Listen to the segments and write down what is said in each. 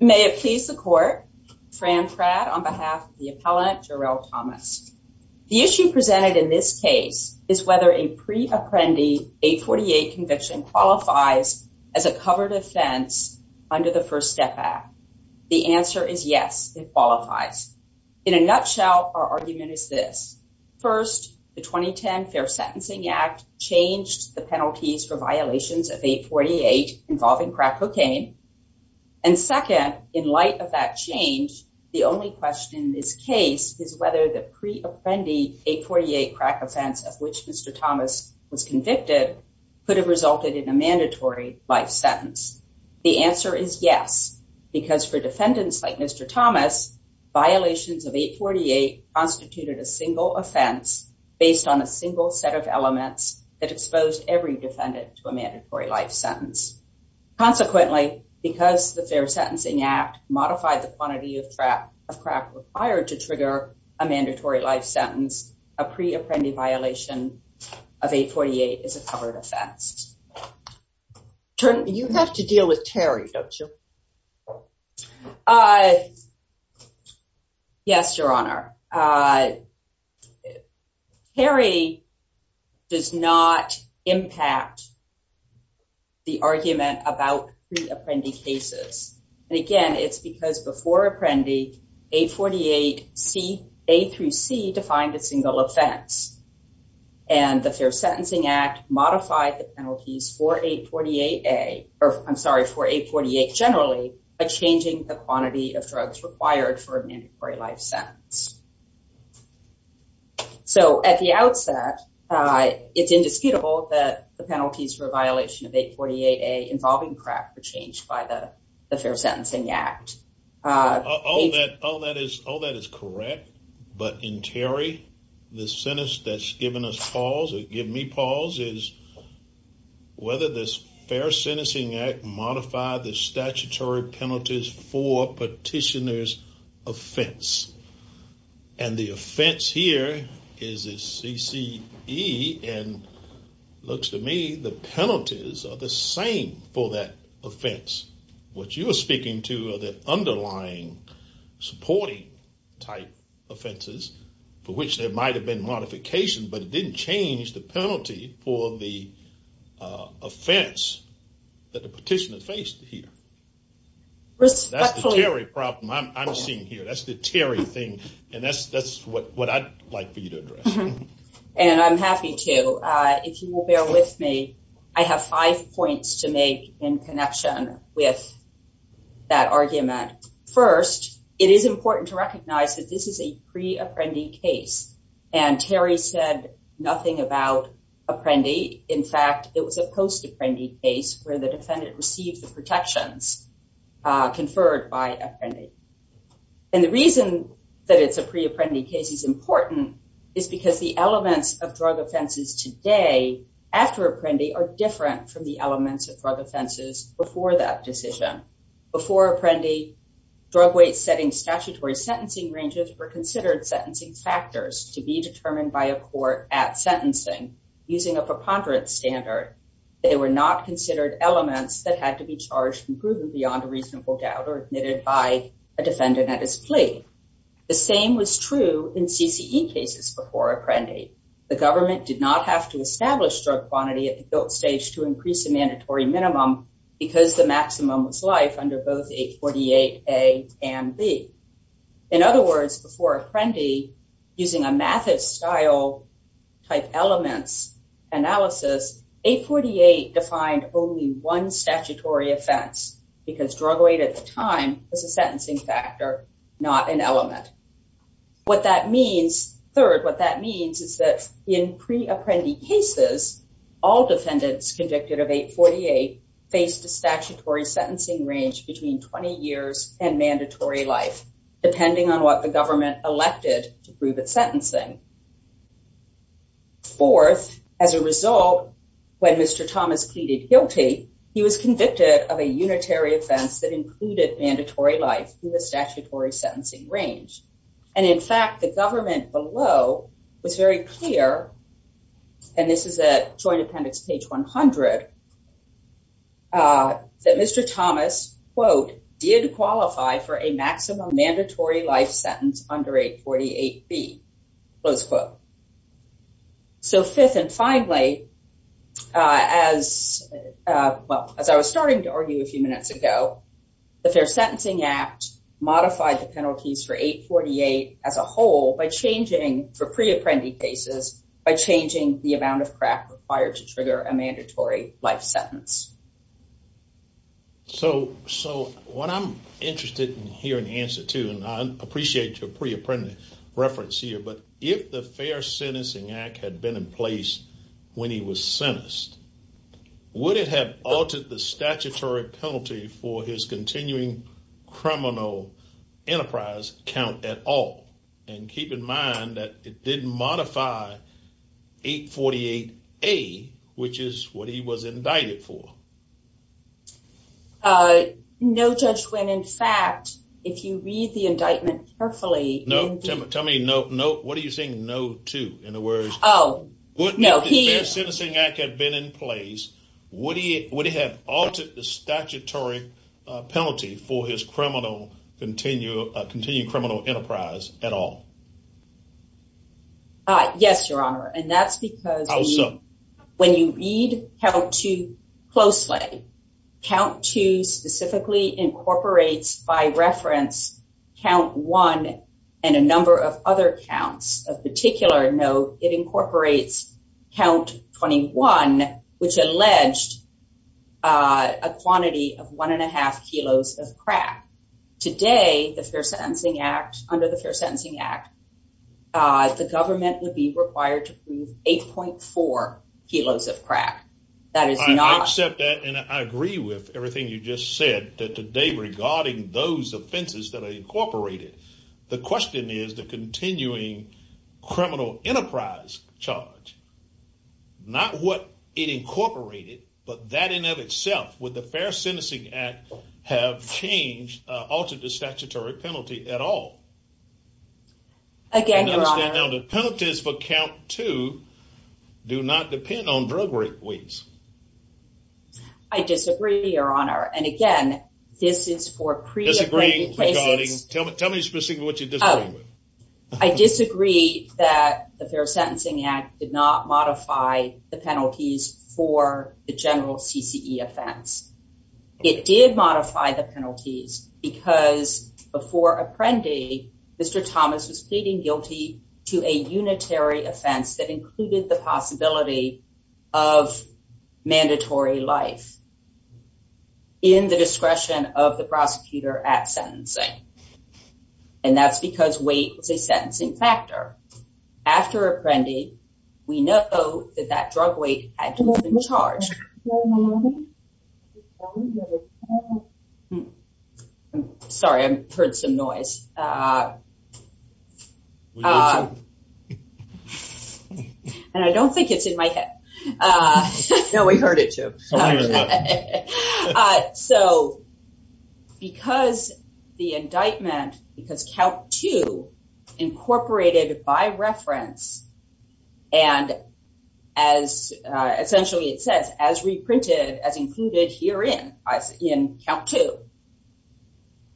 May it please the court, Fran Pratt on behalf of the appellant Jerrell Thomas. The issue presented in this case is whether a pre-apprendi 848 conviction qualifies as a covered offense under the First Step Act. The answer is yes, it qualifies. In a nutshell, our argument is this. First, the 2010 Fair Sentencing Act changed the penalties for violations of 848 involving crack cocaine. And second, in light of that change, the only question in this case is whether the pre-apprendi 848 crack offense of which Mr. Thomas was convicted could have resulted in a mandatory life sentence. The answer is yes, because for defendants like Mr. Thomas, violations of 848 constituted a single offense based on a exposed every defendant to a mandatory life sentence. Consequently, because the Fair Sentencing Act modified the quantity of crack required to trigger a mandatory life sentence, a pre-apprendi violation of 848 is a covered offense. You have to deal with Terry, don't you? Yes, Your Honor. Terry does not impact the argument about pre-apprendi cases. And again, it's because before apprendi, 848, A through C defined a single offense. And the Fair Sentencing Act modified the penalties for 848, A, I'm sorry, for 848 generally, by changing the quantity of drugs required for a mandatory life sentence. So at the outset, it's indisputable that the penalties for violation of 848, A involving crack were changed by the Fair Sentencing Act. All that is correct. But in Terry, the sentence that's given us pause or give me pause is whether this Fair Sentencing Act modified the statutory penalties for petitioner's offense. And the offense here is a CCE. And looks to me, the penalties are the same for that offense. What you are speaking to are the type offenses for which there might have been modification, but it didn't change the penalty for the offense that the petitioner faced here. That's the Terry problem I'm seeing here. That's the Terry thing. And that's what I'd like for you to address. And I'm happy to. If you will bear with me, I have five points to make in connection with that argument. First, it is important to this is a pre-apprendee case. And Terry said nothing about apprendee. In fact, it was a post-apprendee case where the defendant received the protections conferred by apprendee. And the reason that it's a pre-apprendee case is important is because the elements of drug offenses today after apprendee are different from the elements of drug offenses before that decision. Before apprendee, drug weight setting statutory sentencing ranges were considered sentencing factors to be determined by a court at sentencing using a preponderance standard. They were not considered elements that had to be charged and proven beyond a reasonable doubt or admitted by a defendant at his plea. The same was true in CCE cases before apprendee. The government did not have to establish drug quantity at the guilt stage to increase a mandatory minimum because the maximum was life under both 848 A and B. In other words, before apprendee, using a method style type elements analysis, 848 defined only one statutory offense because drug weight at the time was a sentencing factor, not an element. What that means, third, what that means is that in pre-apprendee cases, all faced a statutory sentencing range between 20 years and mandatory life, depending on what the government elected to prove its sentencing. Fourth, as a result, when Mr. Thomas pleaded guilty, he was convicted of a unitary offense that included mandatory life in the statutory sentencing range. And in fact, the that Mr. Thomas, quote, did qualify for a maximum mandatory life sentence under 848 B, close quote. So fifth and finally, as well, as I was starting to argue a few minutes ago, the Fair Sentencing Act modified the penalties for 848 as a whole by changing for pre-apprendee cases by changing the amount of crack required to trigger a mandatory life sentence. So, so what I'm interested in hearing the answer to, and I appreciate your pre-apprentice reference here, but if the Fair Sentencing Act had been in place when he was sentenced, would it have altered the statutory penalty for his continuing criminal enterprise count at all? And keep in mind that it didn't modify 848 A, which is what he was indicted for. No, Judge, when in fact, if you read the indictment carefully. No, tell me, no, no. What are you saying? No to, in other words. Oh, no. If the Fair Sentencing Act had been in place, would it have altered the statutory penalty for his criminal, continuing criminal enterprise at all? Yes, Your Honor. And that's because when you read count two closely, count two specifically incorporates by reference count one and a number of other counts of particular note, it incorporates count 21, which alleged a quantity of one and a half kilos of crack. Today, the Fair Sentencing Act, under the Fair Sentencing Act, would be required to prove 8.4 kilos of crack. That is not. I accept that and I agree with everything you just said that today regarding those offenses that are incorporated. The question is the continuing criminal enterprise charge, not what it incorporated, but that in of itself with the Fair Sentencing Act have changed, altered the statutory penalty at all. Again, the penalties for count two do not depend on drug rate weights. I disagree, Your Honor. And again, this is for pre-agreed. Tell me, tell me specifically what you disagree with. I disagree that the Fair Sentencing Act did not modify the penalties for the general CCE offense. It did modify the penalty. After Apprendi, Mr. Thomas was pleading guilty to a unitary offense that included the possibility of mandatory life in the discretion of the prosecutor at sentencing. And that's because weight was a sentencing factor. After Apprendi, we know that that drug weight had to have been charged. I'm sorry, I heard some noise. And I don't think it's in my head. No, we heard it too. So, because the indictment, because count two incorporated by reference, and as essentially it says, as reprinted, as included here in count two,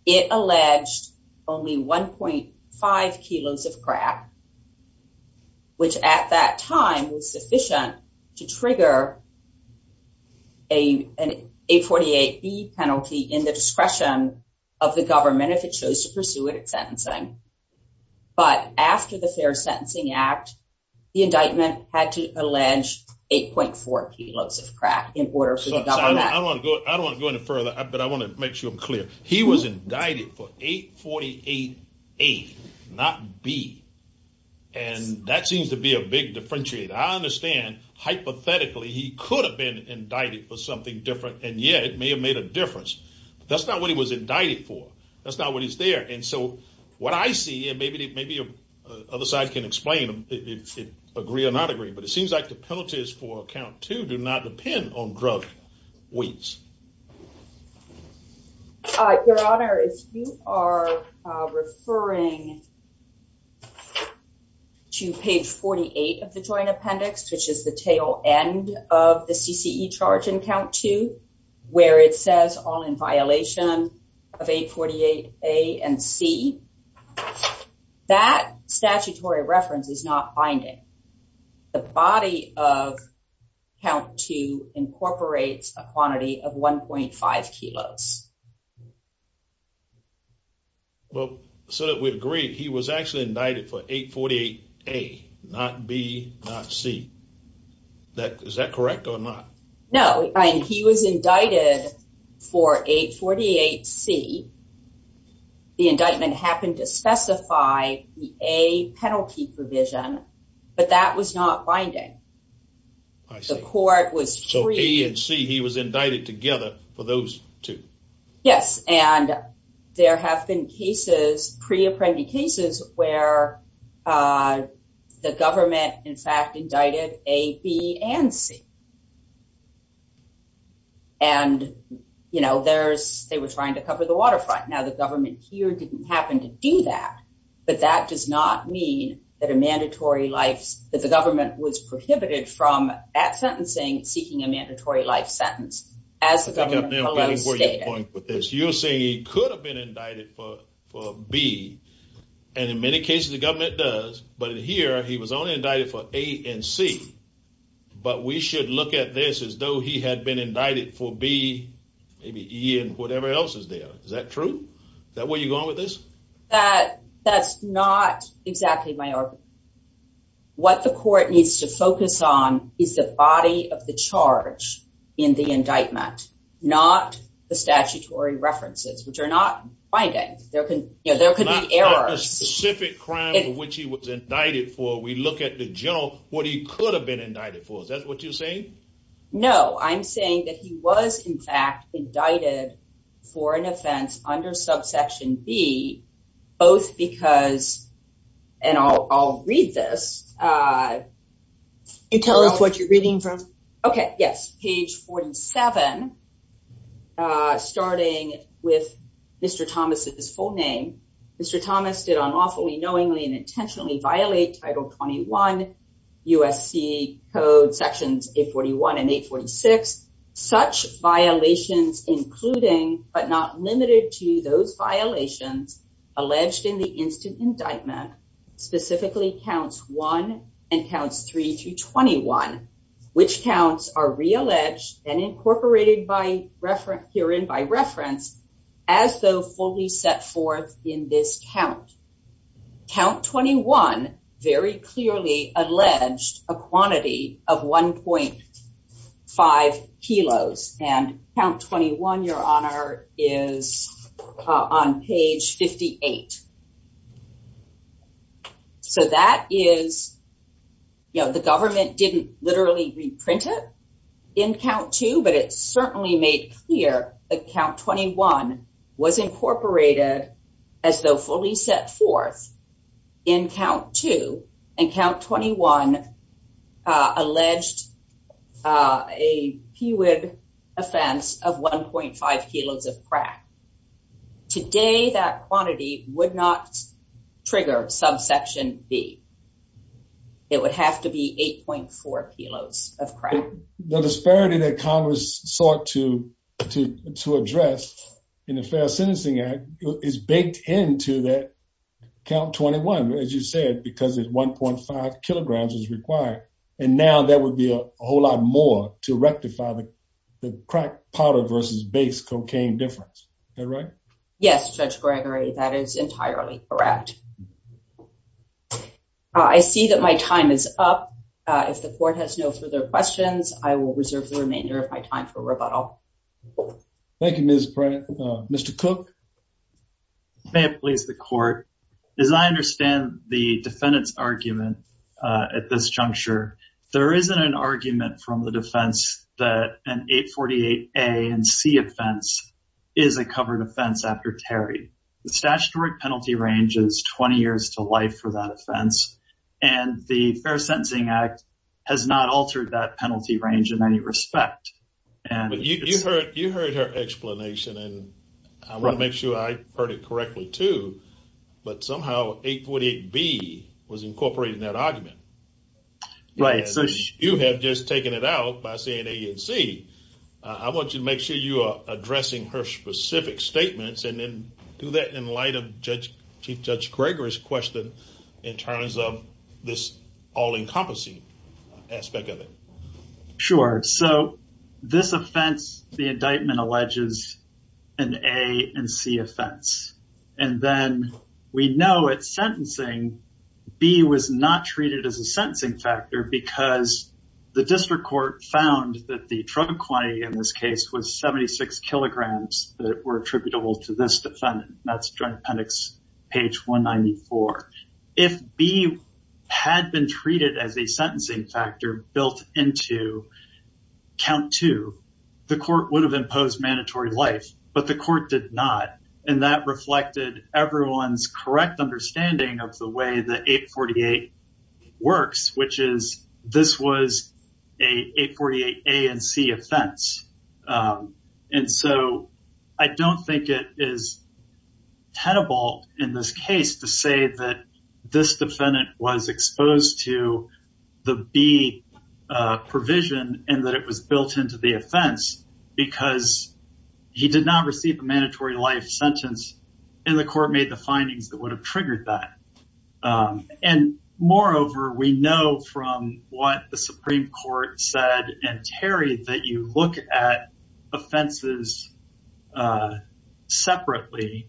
it alleged only 1.5 kilos of crack, which at that time was sufficient to trigger an 848B penalty in the discretion of the government if it chose to pursue it at Fair Sentencing Act, the indictment had to allege 8.4 kilos of crack in order for the government. I don't want to go into further, but I want to make sure I'm clear. He was indicted for 848A, not B, and that seems to be a big differentiator. I understand, hypothetically, he could have been indicted for something different, and yet it may have made a difference. That's not what he was indicted for. That's not what is there. And so what I see, and maybe the other side can explain if it agree or not agree, but it seems like the penalties for count two do not depend on drug weights. Your Honor, if you are referring to page 48 of the Joint Appendix, which is the tail end of the CCE charge in count two, where it says all in violation of 848A and C, that statutory reference is not binding. The body of count two incorporates a quantity of 1.5 kilos. Well, so that we agree, he was actually indicted for 848A, not B, not C. Is that correct or not? No, he was indicted for 848C. The indictment happened to specify the A penalty provision, but that was not binding. I see. So A and C, he was indicted together for those two. Yes, and there have been cases, pre-apprended cases, where the government, in fact, indicted A, B, and C. And, you know, there's, they were trying to cover the waterfront. Now, the government here didn't happen to do that, but that does not mean that a mandatory life, that the government was prohibited from, at sentencing, seeking a mandatory life sentence. As the government stated. You're saying he could have been indicted for B, and in many cases the government does, but here he was only indicted for A and C. But we should look at this as though he had been indicted for B, maybe E, and whatever else is there. Is that true? Is that where you're going with this? That's not exactly my argument. What the court needs to focus on is the body of the charge in the indictment, not the statutory references, which are not binding. There could be errors. Not a specific crime for which he was indicted for. We look at the general, what he could have been indicted for. Is that what you're saying? No, I'm saying that he was, in fact, indicted for an offense under subsection B, both because, and I'll read this. Can you tell us what you're reading from? Okay, yes, page 47, starting with Mr. Thomas's full name. Mr. Thomas did unlawfully, knowingly, and intentionally violate Title 21 USC Code Sections 841 and 846. Such violations, including but not limited to those violations alleged in the instant indictment, specifically Counts 1 and Counts 3 through 21, which counts are realleged and incorporated herein by reference, as though fully set forth in this count. Count 21 very clearly alleged a quantity of 1.5 kilos, and Count 21, Your Honor, is on page 58. So that is, you know, the government didn't literally reprint it in Count 2, but it certainly made clear that Count 21 was incorporated as though fully set forth in Count 2, and Count 21 alleged a PUID offense of 1.5 kilos of crack. Today, that quantity would not trigger subsection B. It would have to be 8.4 kilos of crack. So the disparity that Congress sought to address in the Fair Sentencing Act is baked into that Count 21, as you said, because 1.5 kilograms is required, and now there would be a whole lot more to rectify the crack powder versus base cocaine difference. Is that right? Yes, Judge Gregory, that is entirely correct. I see that my time is up. If the court has no further questions, I will reserve the remainder of my time for rebuttal. Thank you, Ms. Pratt. Mr. Cook? May it please the court? As I understand the defendant's argument at this juncture, there isn't an argument from the defense that an 848A and C offense is a covered offense after Terry. The statutory penalty range is 20 years to life for that offense, and the Fair Sentencing Act has not altered that penalty range in any respect. But you heard her explanation, and I want to make sure I heard it correctly, too, but somehow 848B was incorporated in that argument. Right. You have just taken it out by saying A and C. I want you to make sure you are addressing her specific statements, and then do that in light of Chief Judge Gregory's question in terms of this all-encompassing aspect of it. Sure. So this offense, the indictment, alleges an A and C offense. And then we know at sentencing, B was not treated as a sentencing factor because the district court found that the drug quantity in this case was 76 kilograms that were attributable to this defendant. That's Joint Appendix page 194. If B had been treated as a sentencing factor built into count two, the court would have imposed mandatory life, but the court did not. And that reflected everyone's correct understanding of the way that 848 works, which is this was an 848A and C offense. And so I don't think it is tenable in this case to say that this defendant was exposed to the B provision and that it was built into the offense because he did not receive a mandatory life sentence, and the court made the findings that would have triggered that. And moreover, we know from what the Supreme Court said in Terry that you look at offenses separately.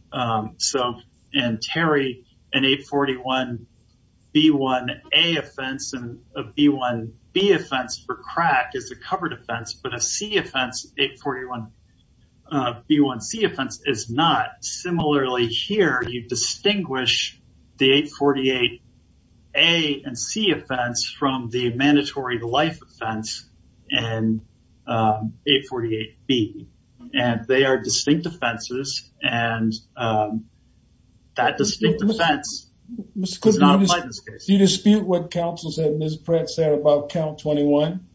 So in Terry, an 841B1A offense and a B1B offense for crack is a covered offense, but a C offense, 841B1C offense is not. Similarly, here you distinguish the 848A and C offense from the mandatory life offense in 848B. And they are distinct offenses, and that distinct offense is not applied in this case. Do you dispute what counsel said, Ms. Pratt said about count 21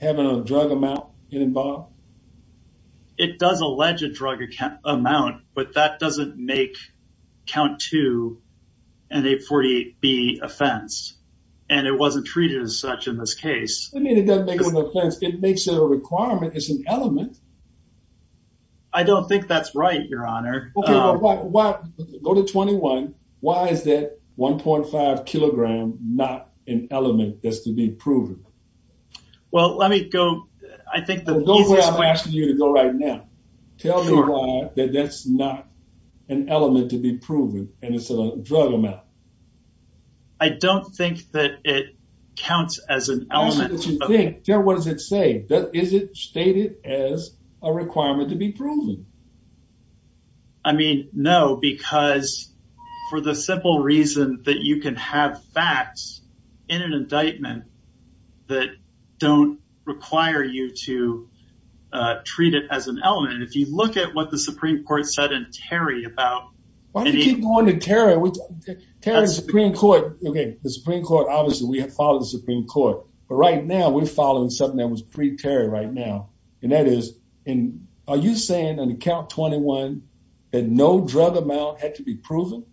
having a drug amount involved? It does allege a drug amount, but that doesn't make count two an 848B offense, and it wasn't treated as such in this case. I mean, it doesn't make it an offense. It makes it a requirement. It's an element. I don't think that's right, Your Honor. Go to 21. Why is that 1.5 kilogram not an element that's to be proven? Well, let me go. I think the easiest way... Go where I'm asking you to go right now. Tell me why that that's not an element to be proven, and it's a drug amount. I don't think that it counts as an element. Tell me what you think. Terry, what does it say? Is it stated as a requirement to be proven? I mean, no, because for the simple reason that you can have facts in an indictment that don't require you to treat it as an element. And if you look at what the Supreme Court said in Terry about... Why do you keep going to Terry? Terry, the Supreme Court... Okay, the Supreme Court, obviously, we have followed the Supreme Court. But right now, we're following something that was pre-Terry right now. And that is, are you saying on account 21 that no drug amount had to be proven?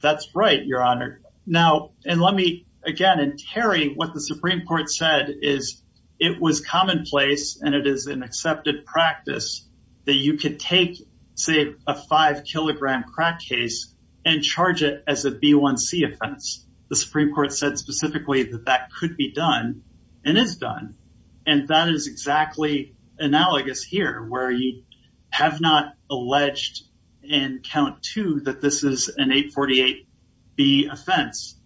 That's right, Your Honor. Now, and let me again... And Terry, what the Supreme Court said is it was commonplace and it is an accepted practice that you could take, say, a five kilogram crack case and charge it as a B1C offense. The Supreme Court said specifically that that could be done and is done. And that is exactly analogous here where you have not alleged in count two that this is an 848B offense.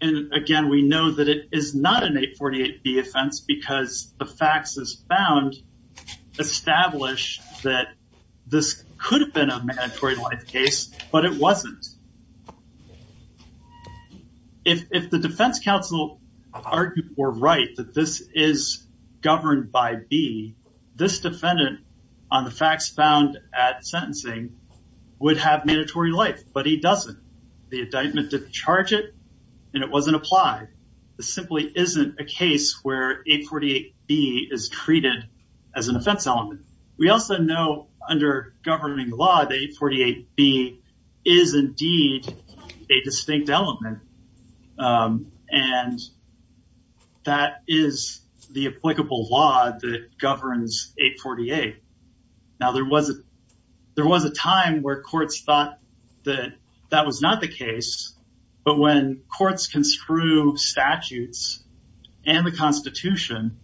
And again, we know that it is not an 848B offense because the facts as found establish that this could have been a mandatory life case, but it wasn't. If the defense counsel argued or right that this is governed by B, this defendant on the facts found at sentencing would have mandatory life, but he doesn't. The indictment didn't charge it and it wasn't applied. This simply isn't a case where 848B is treated as an offense element. We also know under governing law that 848B is indeed a distinct element, and that is the applicable law that governs 848. Now, there was a time where courts thought that that was not the case. But when courts construe statutes and the Constitution,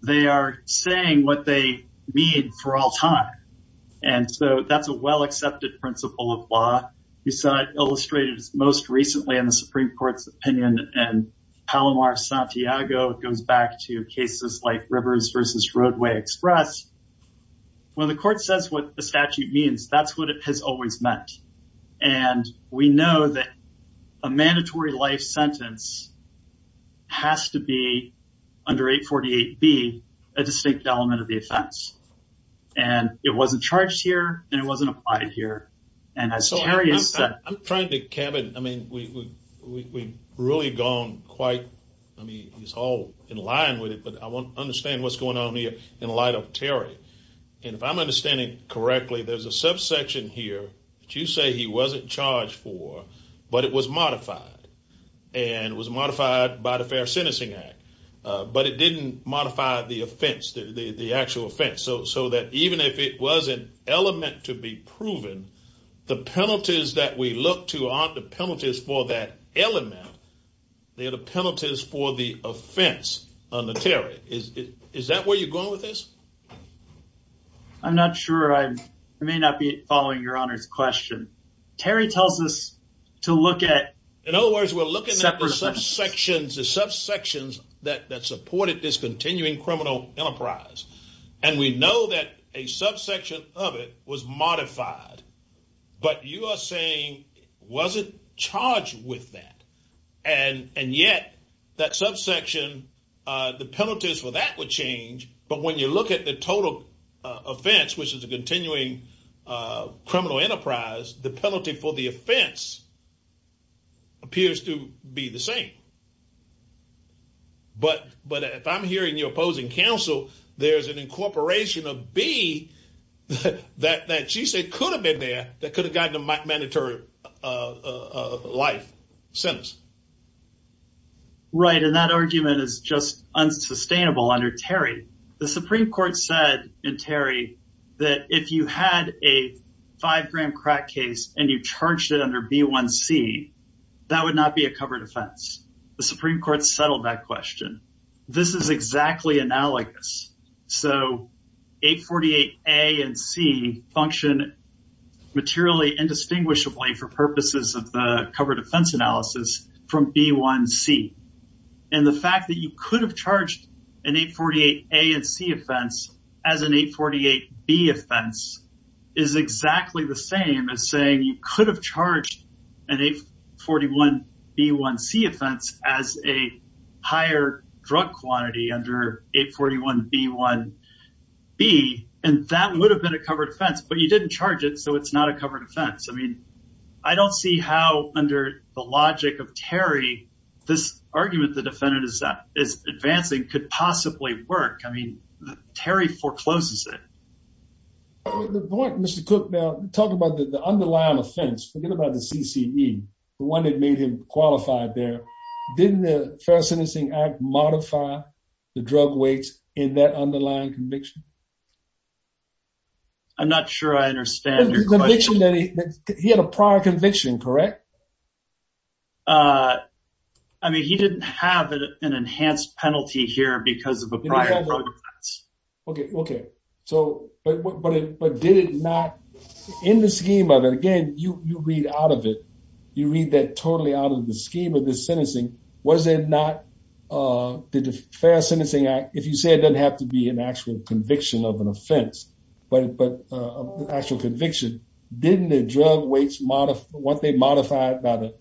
they are saying what they need for all time. And so that's a well-accepted principle of law. You said illustrated most recently in the Supreme Court's opinion and Palomar Santiago goes back to cases like Rivers versus Roadway Express. When the court says what the statute means, that's what it has always meant. And we know that a mandatory life sentence has to be under 848B, a distinct element of the offense. And it wasn't charged here and it wasn't applied here. I'm trying to, Kevin, I mean, we've really gone quite, I mean, it's all in line with it, but I want to understand what's going on here in light of Terry. And if I'm understanding correctly, there's a subsection here that you say he wasn't charged for, but it was modified. And it was modified by the Fair Sentencing Act, but it didn't modify the offense, the actual offense. So that even if it was an element to be proven, the penalties that we look to aren't the penalties for that element. They are the penalties for the offense under Terry. Is that where you're going with this? I'm not sure. I may not be following your Honor's question. Terry tells us to look at. In other words, we're looking at the subsections that supported this continuing criminal enterprise. And we know that a subsection of it was modified, but you are saying it wasn't charged with that. And yet that subsection, the penalties for that would change. But when you look at the total offense, which is a continuing criminal enterprise, the penalty for the offense appears to be the same. But if I'm hearing you opposing counsel, there's an incorporation of B that she said could have been there that could have gotten a mandatory life sentence. Right. And that argument is just unsustainable under Terry. The Supreme Court said in Terry that if you had a five gram crack case and you charged it under B1C, that would not be a covered offense. The Supreme Court settled that question. This is exactly analogous. So 848A and C function materially indistinguishably for purposes of the covered offense analysis from B1C. And the fact that you could have charged an 848A and C offense as an 848B offense is exactly the same as saying you could have charged an 841B1C offense as a higher drug quantity under 841B1B. And that would have been a covered offense. But you didn't charge it, so it's not a covered offense. I mean, I don't see how under the logic of Terry, this argument the defendant is advancing could possibly work. I mean, Terry forecloses it. Mr. Cook, now talk about the underlying offense. Forget about the CCE, the one that made him qualified there. Didn't the Fair Sentencing Act modify the drug weight in that underlying conviction? I'm not sure I understand your question. He had a prior conviction, correct? I mean, he didn't have an enhanced penalty here because of a prior drug offense. Okay, okay. But did it not in the scheme of it? Again, you read out of it. You read that totally out of the scheme of the sentencing. Was it not the Fair Sentencing Act, if you say it doesn't have to be an actual conviction of an offense, but an actual conviction. Didn't the drug weights, weren't they modified by the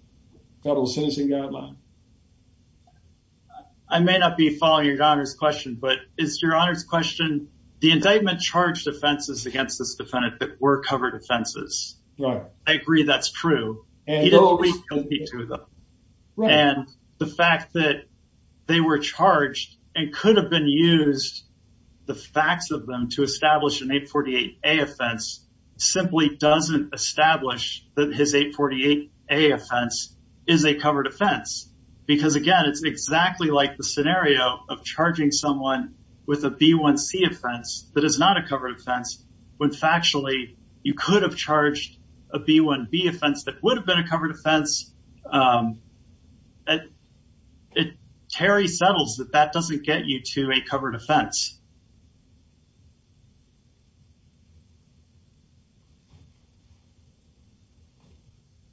Federal Sentencing Guideline? I may not be following your Honor's question, but it's your Honor's question. The indictment charged offenses against this defendant that were covered offenses. I agree that's true. And the fact that they were charged and could have been used, the facts of them to establish an 848A offense simply doesn't establish that his 848A offense is a covered offense. Because, again, it's exactly like the scenario of charging someone with a B1C offense that is not a covered offense when factually you could have charged a B1B offense that would have been a covered offense. Terry settles that that doesn't get you to a covered offense.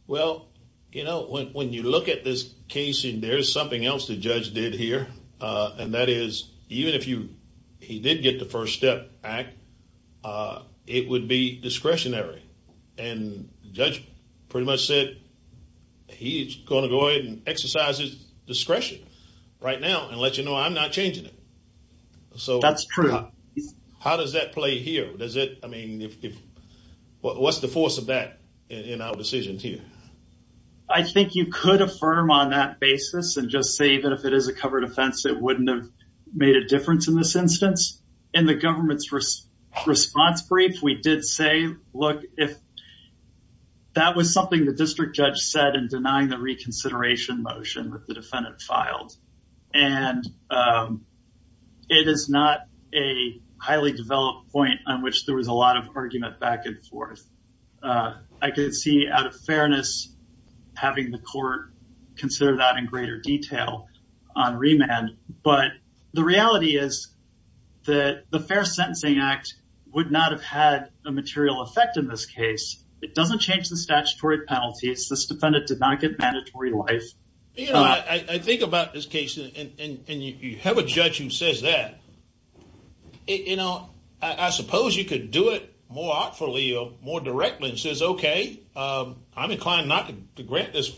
Well, you know, when you look at this case, there's something else the judge did here. And that is, even if he did get the First Step Act, it would be discretionary. And the judge pretty much said he's going to go ahead and exercise his discretion right now and let you know I'm not changing it. That's true. How does that play here? I mean, what's the force of that in our decision here? I think you could affirm on that basis and just say that if it is a covered offense, it wouldn't have made a difference in this instance. In the government's response brief, we did say, look, if that was something the district judge said in denying the reconsideration motion that the defendant filed. And it is not a highly developed point on which there was a lot of argument back and forth. I could see out of fairness having the court consider that in greater detail on remand. But the reality is that the Fair Sentencing Act would not have had a material effect in this case. It doesn't change the statutory penalties. This defendant did not get mandatory life. You know, I think about this case, and you have a judge who says that. You know, I suppose you could do it more artfully or more directly and says, OK, I'm inclined not to grant this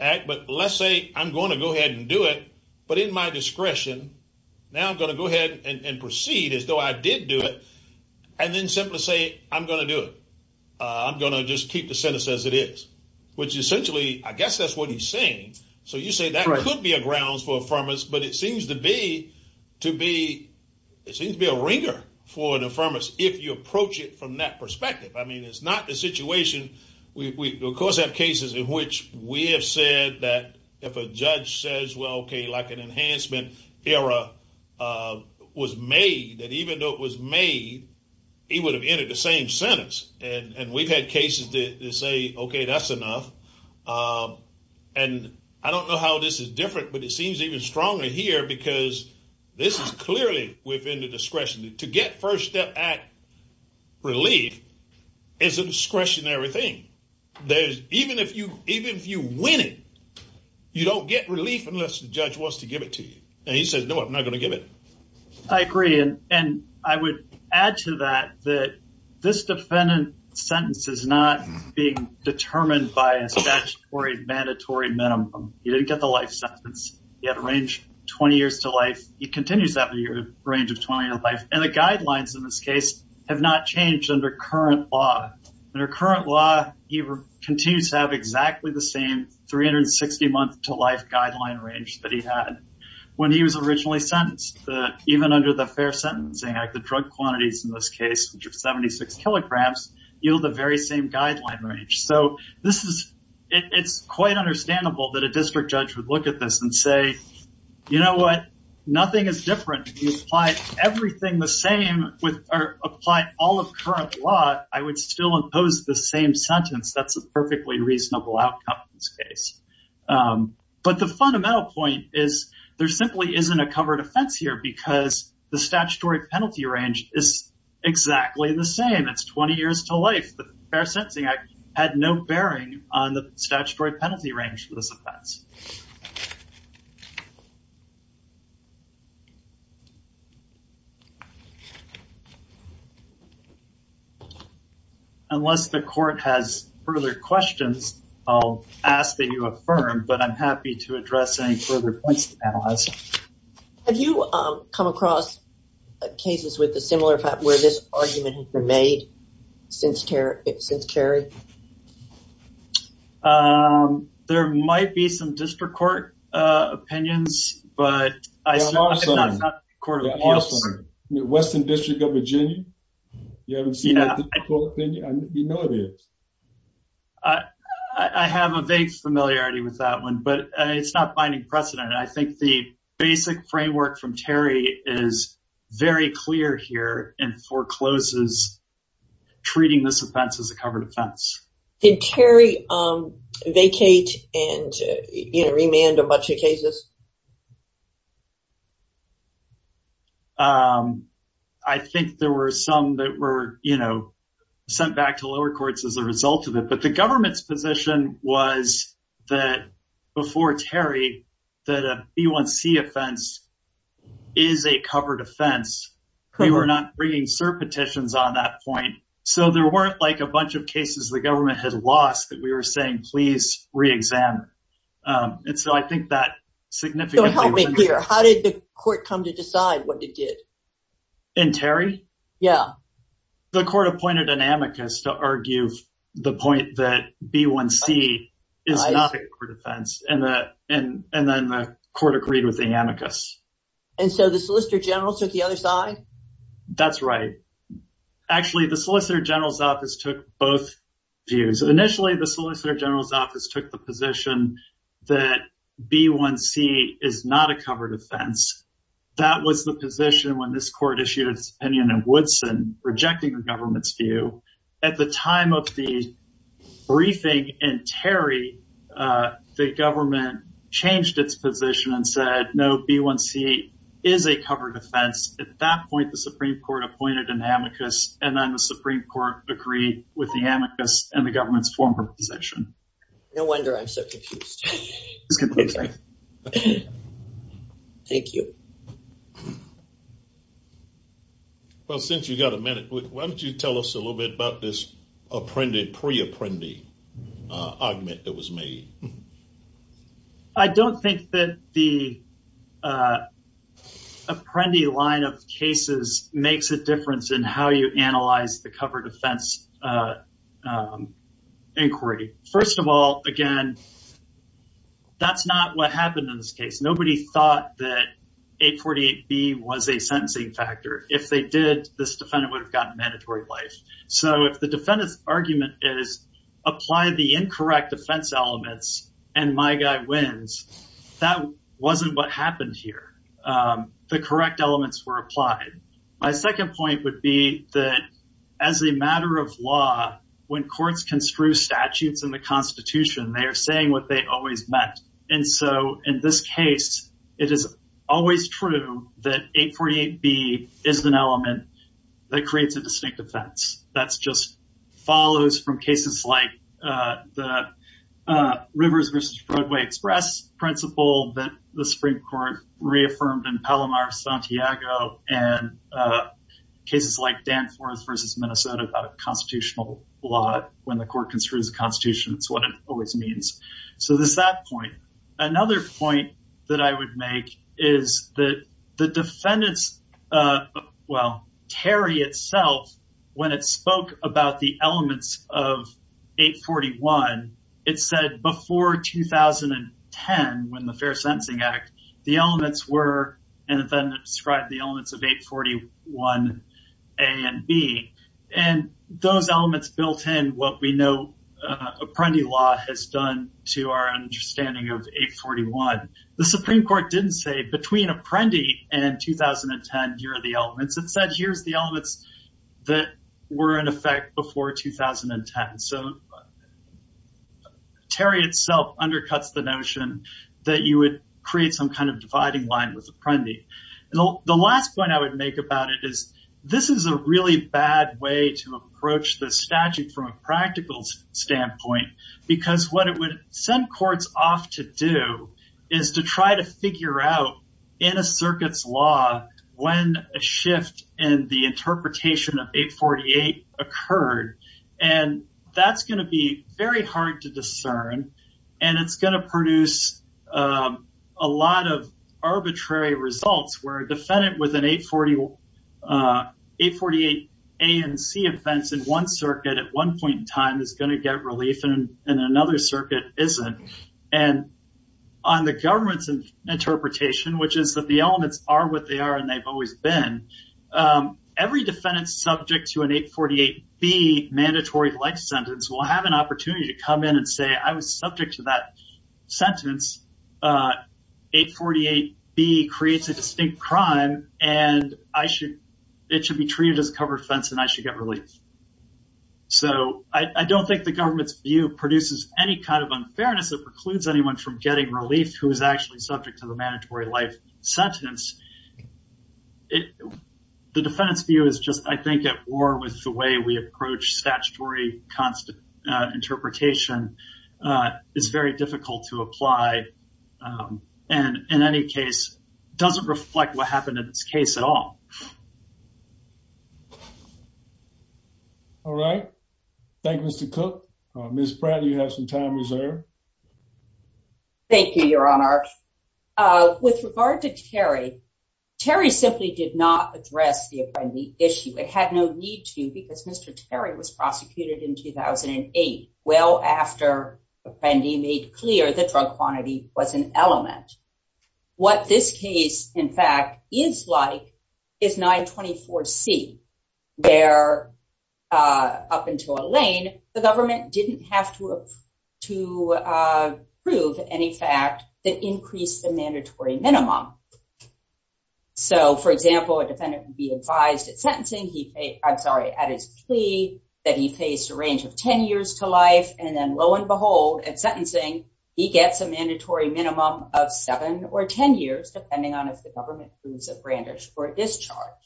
act. But let's say I'm going to go ahead and do it. But in my discretion, now I'm going to go ahead and proceed as though I did do it and then simply say I'm going to do it. I'm going to just keep the sentence as it is. Which essentially, I guess that's what he's saying. So you say that could be a grounds for affirmance. But it seems to be a ringer for an affirmance if you approach it from that perspective. I mean, it's not the situation. We, of course, have cases in which we have said that if a judge says, well, OK, like an enhancement error was made, that even though it was made, he would have entered the same sentence. And we've had cases that say, OK, that's enough. And I don't know how this is different, but it seems even stronger here because this is clearly within the discretion to get First Step Act relief. It's a discretionary thing. There's even if you even if you win it, you don't get relief unless the judge wants to give it to you. And he says, no, I'm not going to give it. I agree. And I would add to that that this defendant's sentence is not being determined by a statutory mandatory minimum. You didn't get the life sentence. You had a range 20 years to life. He continues to have a range of 20 years of life. And the guidelines in this case have not changed under current law. Under current law, he continues to have exactly the same 360 month to life guideline range that he had when he was originally sentenced. Even under the Fair Sentencing Act, the drug quantities in this case, which are 76 kilograms, yield the very same guideline range. So this is it's quite understandable that a district judge would look at this and say, you know what? Nothing is different. You apply everything the same with or apply all of current law. I would still impose the same sentence. But the fundamental point is there simply isn't a covered offense here because the statutory penalty range is exactly the same. It's 20 years to life. The Fair Sentencing Act had no bearing on the statutory penalty range for this offense. Unless the court has further questions, I'll ask that you affirm. But I'm happy to address any further points to analyze. Have you come across cases with a similar fact where this argument has been made since Terry? There might be some district court opinions, but I don't have a court of appeals. Western District of Virginia? You haven't seen that court opinion? You know it is. I have a vague familiarity with that one, but it's not finding precedent. I think the basic framework from Terry is very clear here and forecloses treating this offense as a covered offense. Did Terry vacate and remand a bunch of cases? I think there were some that were, you know, sent back to lower courts as a result of it. But the government's position was that before Terry that a B1C offense is a covered offense. We were not bringing cert petitions on that point. So there weren't like a bunch of cases the government had lost that we were saying, please re-examine. And so I think that significantly... How did the court come to decide what it did? In Terry? Yeah. The court appointed an amicus to argue the point that B1C is not a covered offense. And then the court agreed with the amicus. And so the Solicitor General took the other side? That's right. Actually, the Solicitor General's office took both views. Initially, the Solicitor General's office took the position that B1C is not a covered offense. That was the position when this court issued its opinion in Woodson, rejecting the government's view. At the time of the briefing in Terry, the government changed its position and said, no, B1C is a covered offense. At that point, the Supreme Court appointed an amicus. And then the Supreme Court agreed with the amicus and the government's former position. No wonder I'm so confused. Thank you. Well, since you've got a minute, why don't you tell us a little bit about this pre-apprendee argument that was made? I don't think that the apprendee line of cases makes a difference in how you analyze the covered offense inquiry. First of all, again, that's not what happened in this case. Nobody thought that 848B was a sentencing factor. If they did, this defendant would have gotten mandatory life. So if the defendant's argument is apply the incorrect defense elements and my guy wins, that wasn't what happened here. The correct elements were applied. My second point would be that as a matter of law, when courts construe statutes in the Constitution, they are saying what they always meant. And so in this case, it is always true that 848B is an element that creates a distinct offense. That's just follows from cases like the Rivers vs. Broadway Express principle that the Supreme Court reaffirmed in Palomar, Santiago, and cases like Danforth vs. Minnesota constitutional law. When the court construes a constitution, it's what it always means. So there's that point. Another point that I would make is that the defendants, well, Terry itself, when it spoke about the elements of 841, it said before 2010, when the Fair Sentencing Act, the elements were and then described the elements of 841A and B. And those elements built in what we know Apprendi law has done to our understanding of 841. The Supreme Court didn't say between Apprendi and 2010, here are the elements. It said here's the elements that were in effect before 2010. So Terry itself undercuts the notion that you would create some kind of dividing line with Apprendi. The last point I would make about it is this is a really bad way to approach the statute from a practical standpoint, because what it would send courts off to do is to try to figure out in a circuit's law when a shift in the interpretation of 848 occurred. And that's going to be very hard to discern. And it's going to produce a lot of arbitrary results where a defendant with an 848A and C offense in one circuit at one point in time is going to get relief and another circuit isn't. And on the government's interpretation, which is that the elements are what they are and they've always been, every defendant subject to an 848B mandatory life sentence will have an opportunity to come in and say I was subject to that sentence. 848B creates a distinct crime and I should it should be treated as a covered fence and I should get relief. So I don't think the government's view produces any kind of unfairness that precludes anyone from getting relief who is actually subject to the mandatory life sentence. The defendant's view is just I think at war with the way we approach statutory interpretation is very difficult to apply and in any case doesn't reflect what happened in this case at all. All right. Thank you, Mr. Cook. Ms. Pratt, you have some time reserved. Thank you, Your Honor. With regard to Terry, Terry simply did not address the issue. It had no need to because Mr. Terry was prosecuted in 2008, well after Apprendi made clear the drug quantity was an element. What this case, in fact, is like is 924C. There, up until Elaine, the government didn't have to prove any fact that increased the mandatory minimum. So, for example, a defendant would be advised at sentencing, I'm sorry, at his plea that he faced a range of 10 years to life. And then lo and behold, at sentencing, he gets a mandatory minimum of 7 or 10 years, depending on if the government proves a brandish or discharge.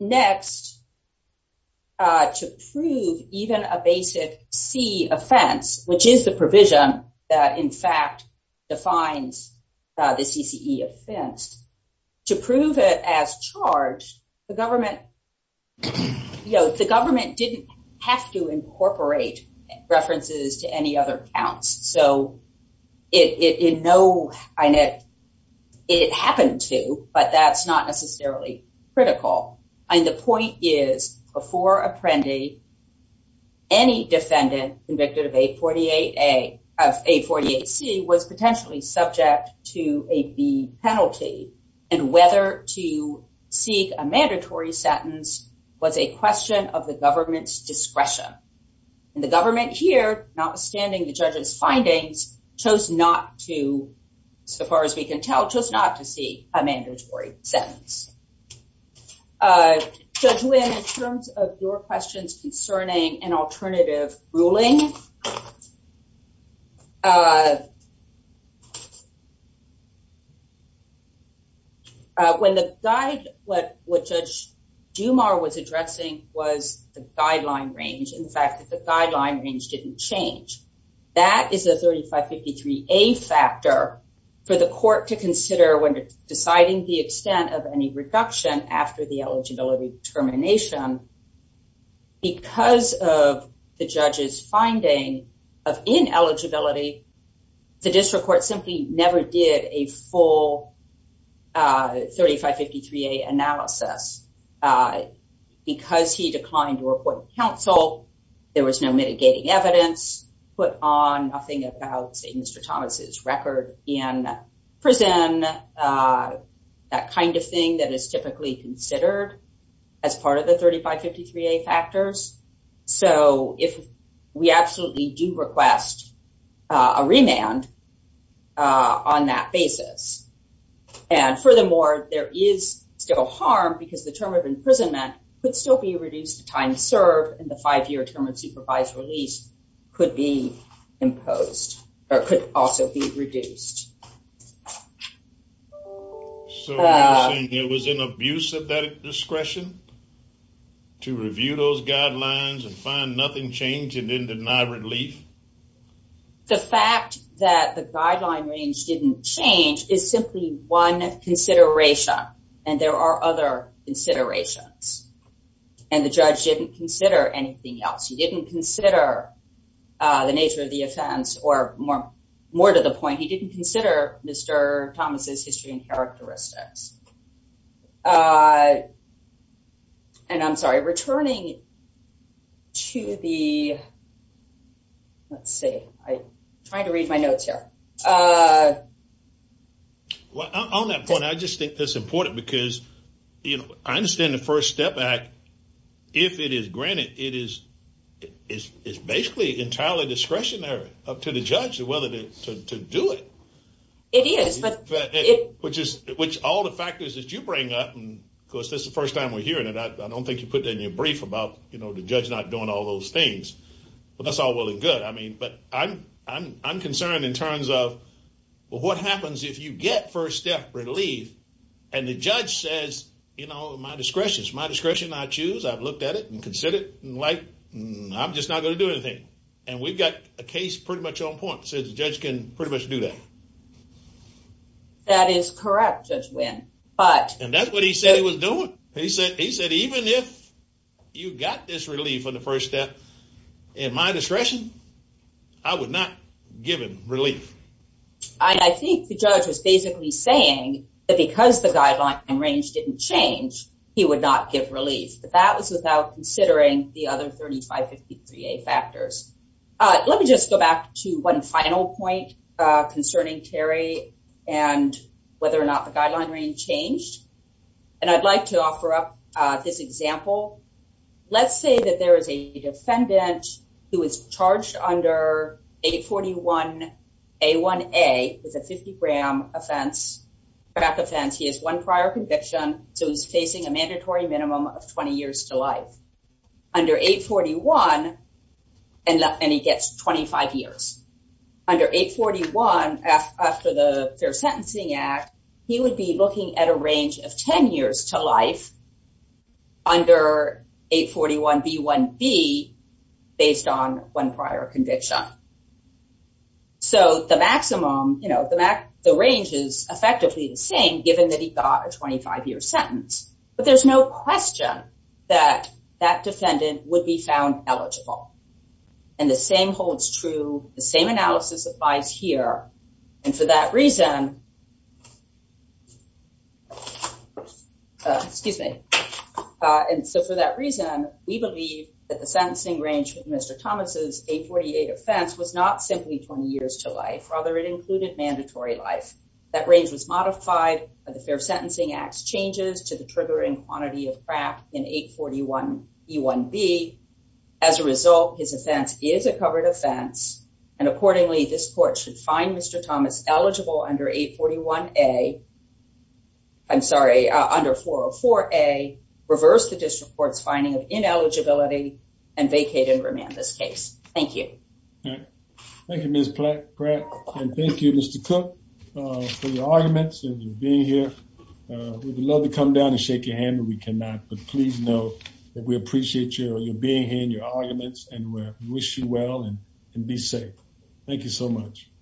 Next, to prove even a basic C offense, which is the provision that, in fact, defines the CCE offense, to prove it as charged, the government didn't have to incorporate references to any other counts. So, it happened to, but that's not necessarily critical. And the point is, before Apprendi, any defendant convicted of 848C was potentially subject to a B penalty. And whether to seek a mandatory sentence was a question of the government's discretion. And the government here, notwithstanding the judge's findings, chose not to, so far as we can tell, chose not to seek a mandatory sentence. Judge Wynn, in terms of your questions concerning an alternative ruling, when the, what Judge Dumas was addressing was the guideline range, in fact, the guideline range didn't change. That is a 3553A factor for the court to consider when deciding the extent of any reduction after the eligibility determination. Because of the judge's finding of ineligibility, the district court simply never did a full 3553A analysis. Because he declined to report to counsel, there was no mitigating evidence put on, nothing about, say, Mr. Thomas's record in prison, that kind of thing that is typically considered as part of the 3553A factors. So, if we absolutely do request a remand on that basis. And furthermore, there is still harm, because the term of imprisonment could still be reduced to time served, and the five-year term of supervised release could be imposed, or could also be reduced. So, you're saying it was an abuse of that discretion to review those guidelines and find nothing changed, and then deny relief? The fact that the guideline range didn't change is simply one consideration, and there are other considerations. And the judge didn't consider anything else. He didn't consider the nature of the offense, or more to the point, he didn't consider Mr. Thomas's history and characteristics. And I'm sorry, returning to the, let's see, I'm trying to read my notes here. Well, on that point, I just think that's important, because I understand the First Step Act, if it is granted, it is basically entirely discretionary up to the judge whether to do it. It is. Which is, which all the factors that you bring up, and of course, this is the first time we're hearing it, I don't think you put it in your brief about, you know, the judge not doing all those things. But that's all well and good, I mean, but I'm concerned in terms of, well, what happens if you get first step relief, and the judge says, you know, my discretion, it's my discretion I choose, I've looked at it and considered it, and like, I'm just not going to do anything. And we've got a case pretty much on point, so the judge can pretty much do that. That is correct, Judge Wynn. And that's what he said he was doing. He said, even if you got this relief on the first step, in my discretion, I would not give him relief. And I think the judge was basically saying that because the guideline range didn't change, he would not give relief. But that was without considering the other 3553A factors. Let me just go back to one final point concerning Terry and whether or not the guideline range changed. And I'd like to offer up this example. Let's say that there is a defendant who is charged under 841A1A with a 50-gram offense, crack offense. He has one prior conviction, so he's facing a mandatory minimum of 20 years to life. Under 841, and he gets 25 years. Under 841, after the Fair Sentencing Act, he would be looking at a range of 10 years to life under 841B1B based on one prior conviction. So the maximum, you know, the range is effectively the same, given that he got a 25-year sentence. But there's no question that that defendant would be found eligible. And the same holds true, the same analysis applies here. And for that reason, excuse me. And so for that reason, we believe that the sentencing range with Mr. Thomas' 848 offense was not simply 20 years to life. Rather, it included mandatory life. That range was modified by the Fair Sentencing Act's changes to the triggering quantity of crack in 841B1B. As a result, his offense is a covered offense. And accordingly, this court should find Mr. Thomas eligible under 841A, I'm sorry, under 404A, reverse the district court's finding of ineligibility, and vacate and remand this case. Thank you. Thank you, Ms. Pratt. And thank you, Mr. Cook, for your arguments and your being here. We'd love to come down and shake your hand, but we cannot. But please know that we appreciate your being here and your arguments and wish you well and be safe. Thank you so much.